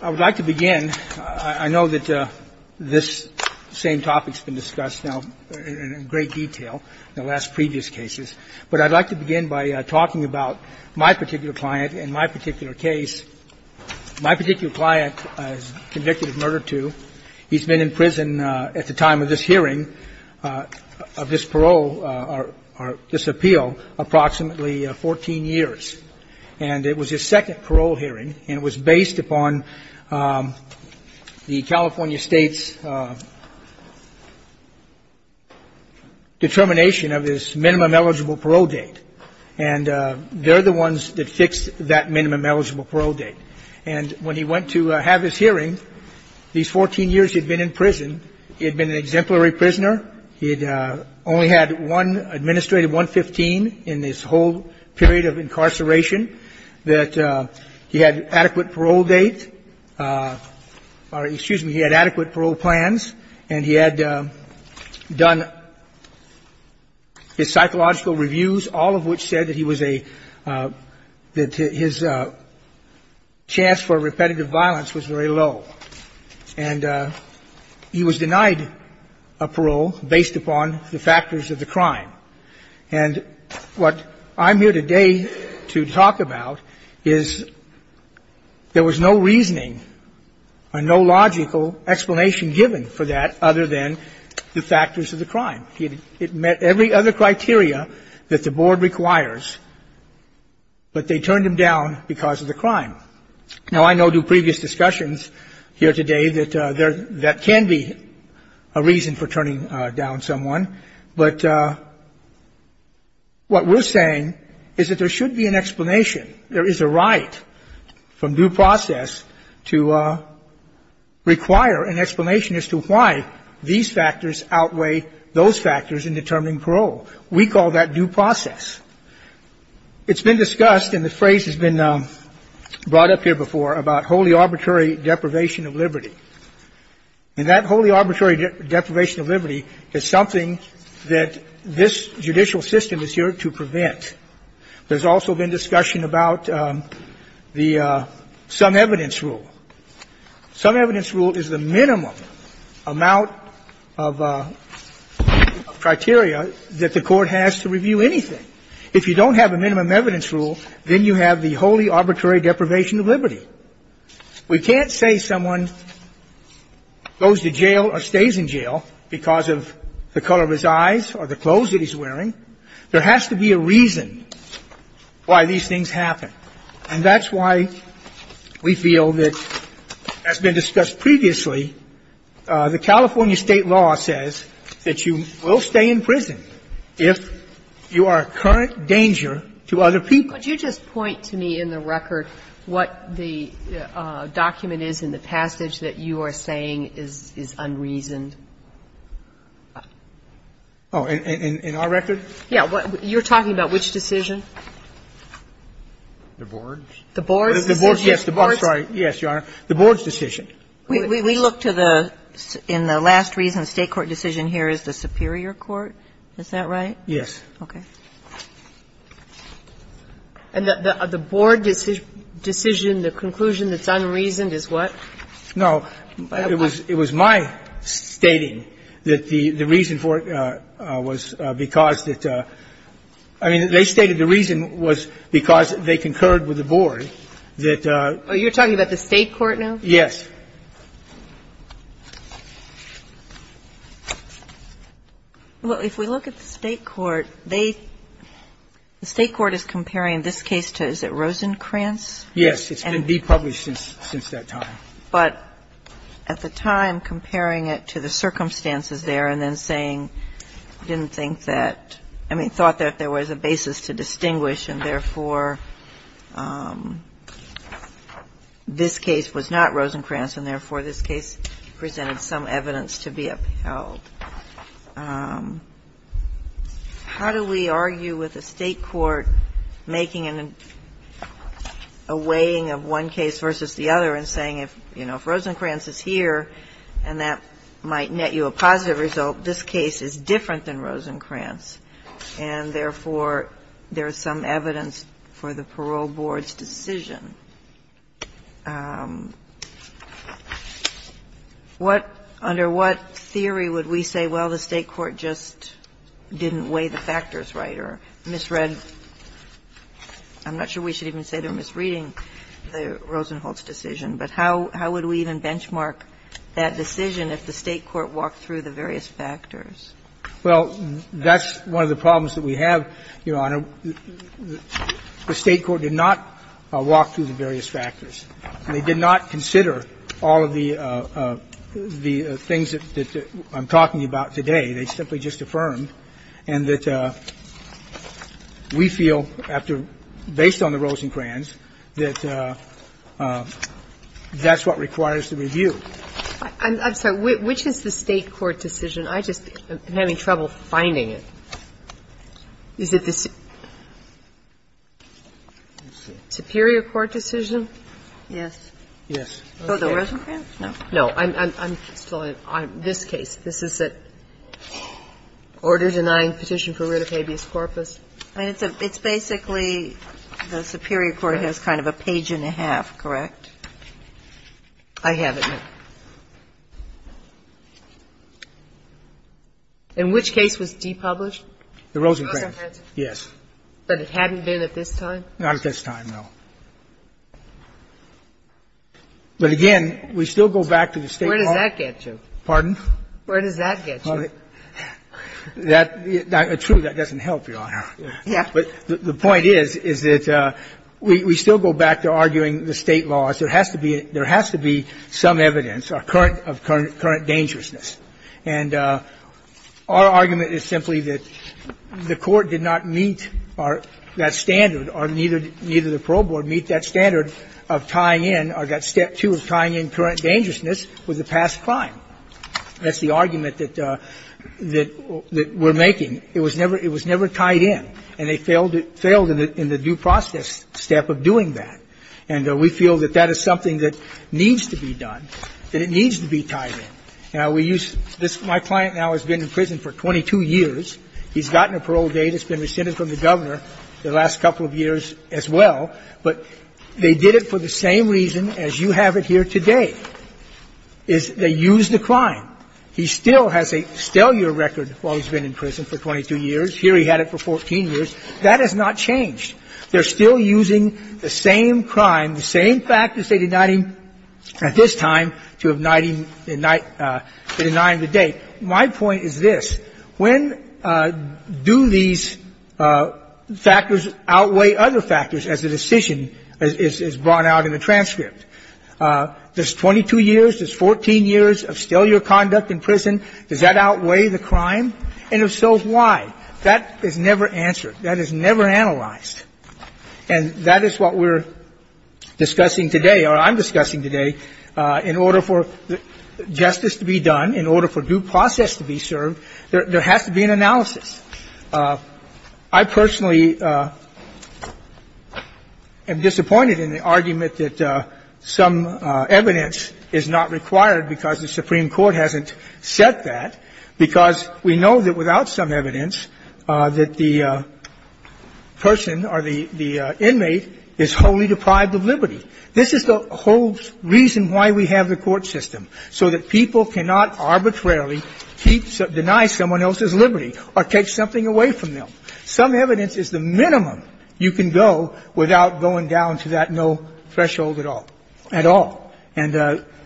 I would like to begin, I know that this same topic has been discussed now in great detail in the last previous cases, but I'd like to begin by talking about my particular client and my particular case. My particular client is convicted of murder two. He's been in prison at the time of this hearing of this parole or this appeal approximately 14 years. And it was his second parole hearing, and it was based upon the California State's determination of his minimum eligible parole date. And they're the ones that fixed that minimum eligible parole date. And when he went to have his hearing, these 14 years he'd been in prison, he had been an exemplary prisoner. He'd only had one administrative, 115, in this whole period of incarceration. That he had adequate parole date or, excuse me, he had adequate parole plans. And he had done his psychological reviews, all of which said that he was a, that his chance for repetitive violence was very low. And he was denied a parole based upon the factors of the crime. And what I'm here today to talk about is there was no reasoning or no logical explanation given for that other than the factors of the crime. It met every other criteria that the Board requires, but they turned him down because of the crime. Now, I know due to previous discussions here today that there, that can be a reason for turning down someone. But what we're saying is that there should be an explanation. There is a right from due process to require an explanation as to why these factors outweigh those factors in determining parole. We call that due process. It's been discussed, and the phrase has been brought up here before, about wholly arbitrary deprivation of liberty. And that wholly arbitrary deprivation of liberty is something that this judicial system is here to prevent. There's also been discussion about the sum evidence rule. Sum evidence rule is the minimum amount of criteria that the Court has to review anything. If you don't have a minimum evidence rule, then you have the wholly arbitrary deprivation of liberty. We can't say someone goes to jail or stays in jail because of the color of his eyes or the clothes that he's wearing. There has to be a reason why these things happen. And that's why we feel that, as been discussed previously, the California State law says that you will stay in prison if you are a current danger to other people. Could you just point to me in the record what the document is in the passage that you are saying is unreasoned? Oh, in our record? Yeah. You're talking about which decision? The board's? The board's decision. Yes, the board's. Sorry. Yes, Your Honor. The board's decision. We look to the, in the last reason, State court decision here is the superior court. Is that right? And the board decision, the conclusion that's unreasoned is what? No. It was my stating that the reason for it was because that, I mean, they stated the reason was because they concurred with the board. You're talking about the State court now? Yes. Well, if we look at the State court, they, the State court is comparing this case to, is it Rosencrantz? Yes. It's been depublished since that time. But at the time, comparing it to the circumstances there and then saying, didn't think that, I mean, thought that there was a basis to distinguish and, therefore, this case was not Rosencrantz and, therefore, this case presented some evidence to be upheld. How do we argue with a State court making a weighing of one case versus the other and saying if, you know, if Rosencrantz is here and that might net you a positive result, this case is different than Rosencrantz and, therefore, there is some evidence for the parole board's decision? What, under what theory would we say, well, the State court just didn't weigh the factors right or misread, I'm not sure we should even say they're misreading the Rosencrantz decision, but how would we even benchmark that decision if the State court walked through the various factors? Well, that's one of the problems that we have, Your Honor. The State court did not walk through the various factors. They did not consider all of the things that I'm talking about today. They simply just affirmed. And that we feel after, based on the Rosencrantz, that that's what requires the review. I'm sorry. Which is the State court decision? I just am having trouble finding it. Is it the Superior Court decision? Yes. Yes. For the Rosencrantz? No. No. I'm still on this case. This is an order-denying petition for writ of habeas corpus? It's basically the Superior Court has kind of a page and a half, correct? I have it. And which case was depublished? The Rosencrantz. Yes. But it hadn't been at this time? Not at this time, no. But again, we still go back to the State law. Where does that get you? Where does that get you? That doesn't help, Your Honor. Yeah. But the point is, is that we still go back to arguing the State laws. There has to be some evidence of current dangerousness. And our argument is simply that the Court did not meet that standard or neither the parole board meet that standard of tying in or that step two of tying in current dangerousness with the past crime. That's the argument that we're making. It was never tied in. And they failed in the due process step of doing that. And we feel that that is something that needs to be done, that it needs to be tied in. Now, we use this. My client now has been in prison for 22 years. He's gotten a parole date. It's been rescinded from the Governor the last couple of years as well. But they did it for the same reason as you have it here today, is they used the crime. He still has a stale year record while he's been in prison for 22 years. Here he had it for 14 years. That has not changed. They're still using the same crime, the same factors they denied him at this time to deny him the date. My point is this. When do these factors outweigh other factors as the decision is brought out in the transcript? Does 22 years, does 14 years of stale year conduct in prison, does that outweigh the crime? And if so, why? That is never answered. That is never analyzed. And that is what we're discussing today, or I'm discussing today, in order for justice to be done, in order for due process to be served, there has to be an analysis. I personally am disappointed in the argument that some evidence is not required because the Supreme Court hasn't said that, because we know that without some evidence that the person or the inmate is wholly deprived of liberty. This is the whole reason why we have the court system, so that people cannot arbitrarily deny someone else's liberty or take something away from them. Some evidence is the minimum you can go without going down to that no threshold at all. And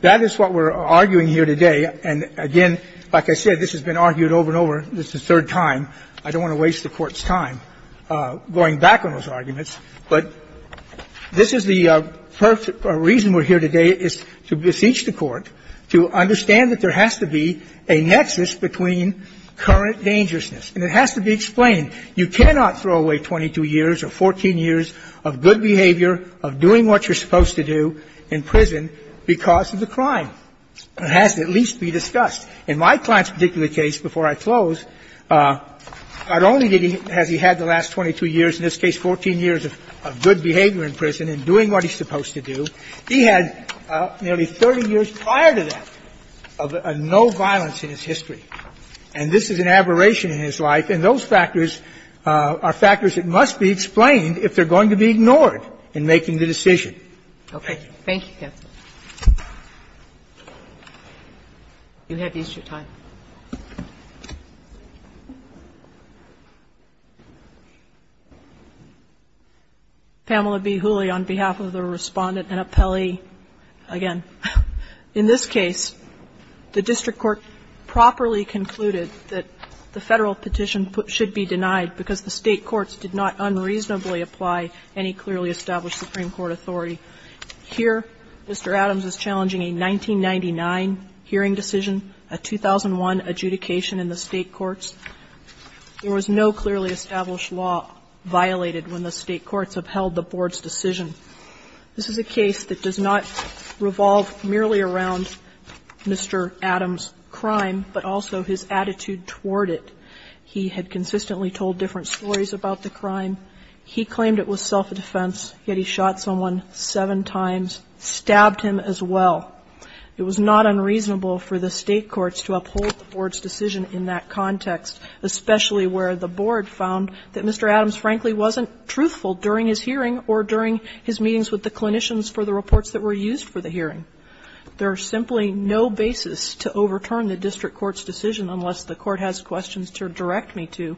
that is what we're arguing here today. And, again, like I said, this has been argued over and over. This is the third time. I don't want to waste the Court's time going back on those arguments. But this is the perfect reason we're here today is to beseech the Court to understand that there has to be a nexus between current dangerousness. And it has to be explained. You cannot throw away 22 years or 14 years of good behavior, of doing what you're supposed to do in prison because of the crime. It has to at least be discussed. In my client's particular case, before I close, not only has he had the last 22 years, in this case 14 years, of good behavior in prison and doing what he's supposed to do, he had nearly 30 years prior to that of no violence in his history. And this is an aberration in his life, and those factors are factors that must be explained if they're going to be ignored in making the decision. Thank you. Sotomayor, thank you. Thank you, Counsel. You have used your time. Pamela B. Hooley, on behalf of the Respondent and Appellee. Again, in this case, the district court properly concluded that the Federal petition should be denied because the State courts did not unreasonably apply any clearly established Supreme Court authority. Here, Mr. Adams is challenging a 1999 hearing decision, a 2001 adjudication in the State courts. There was no clearly established law violated when the State courts upheld the Board's decision. This is a case that does not revolve merely around Mr. Adams' crime, but also his attitude toward it. He had consistently told different stories about the crime. He claimed it was self-defense, yet he shot someone seven times, stabbed him as well. It was not unreasonable for the State courts to uphold the Board's decision in that context, especially where the Board found that Mr. Adams frankly wasn't truthful during his hearing or during his meetings with the clinicians for the reports that were used for the hearing. There is simply no basis to overturn the district court's decision unless the court has questions to direct me to.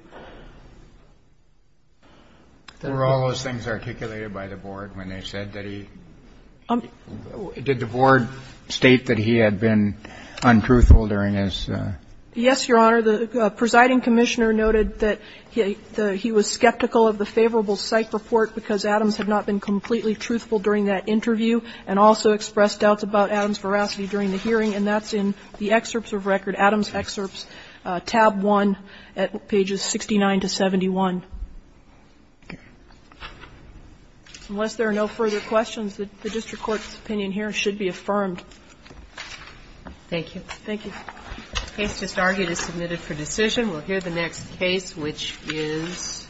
Kennedy. Were all those things articulated by the Board when they said that he did the Board state that he had been untruthful during his? Yes, Your Honor. The presiding commissioner noted that he was skeptical of the favorable psych report because Adams had not been completely truthful during that interview and also expressed doubts about Adams' veracity during the hearing. And that's in the excerpts of record, Adams' excerpts, tab 1 at pages 69 to 71. Unless there are no further questions, the district court's opinion here should be affirmed. Thank you. Thank you. The case just argued is submitted for decision. We'll hear the next case, which is?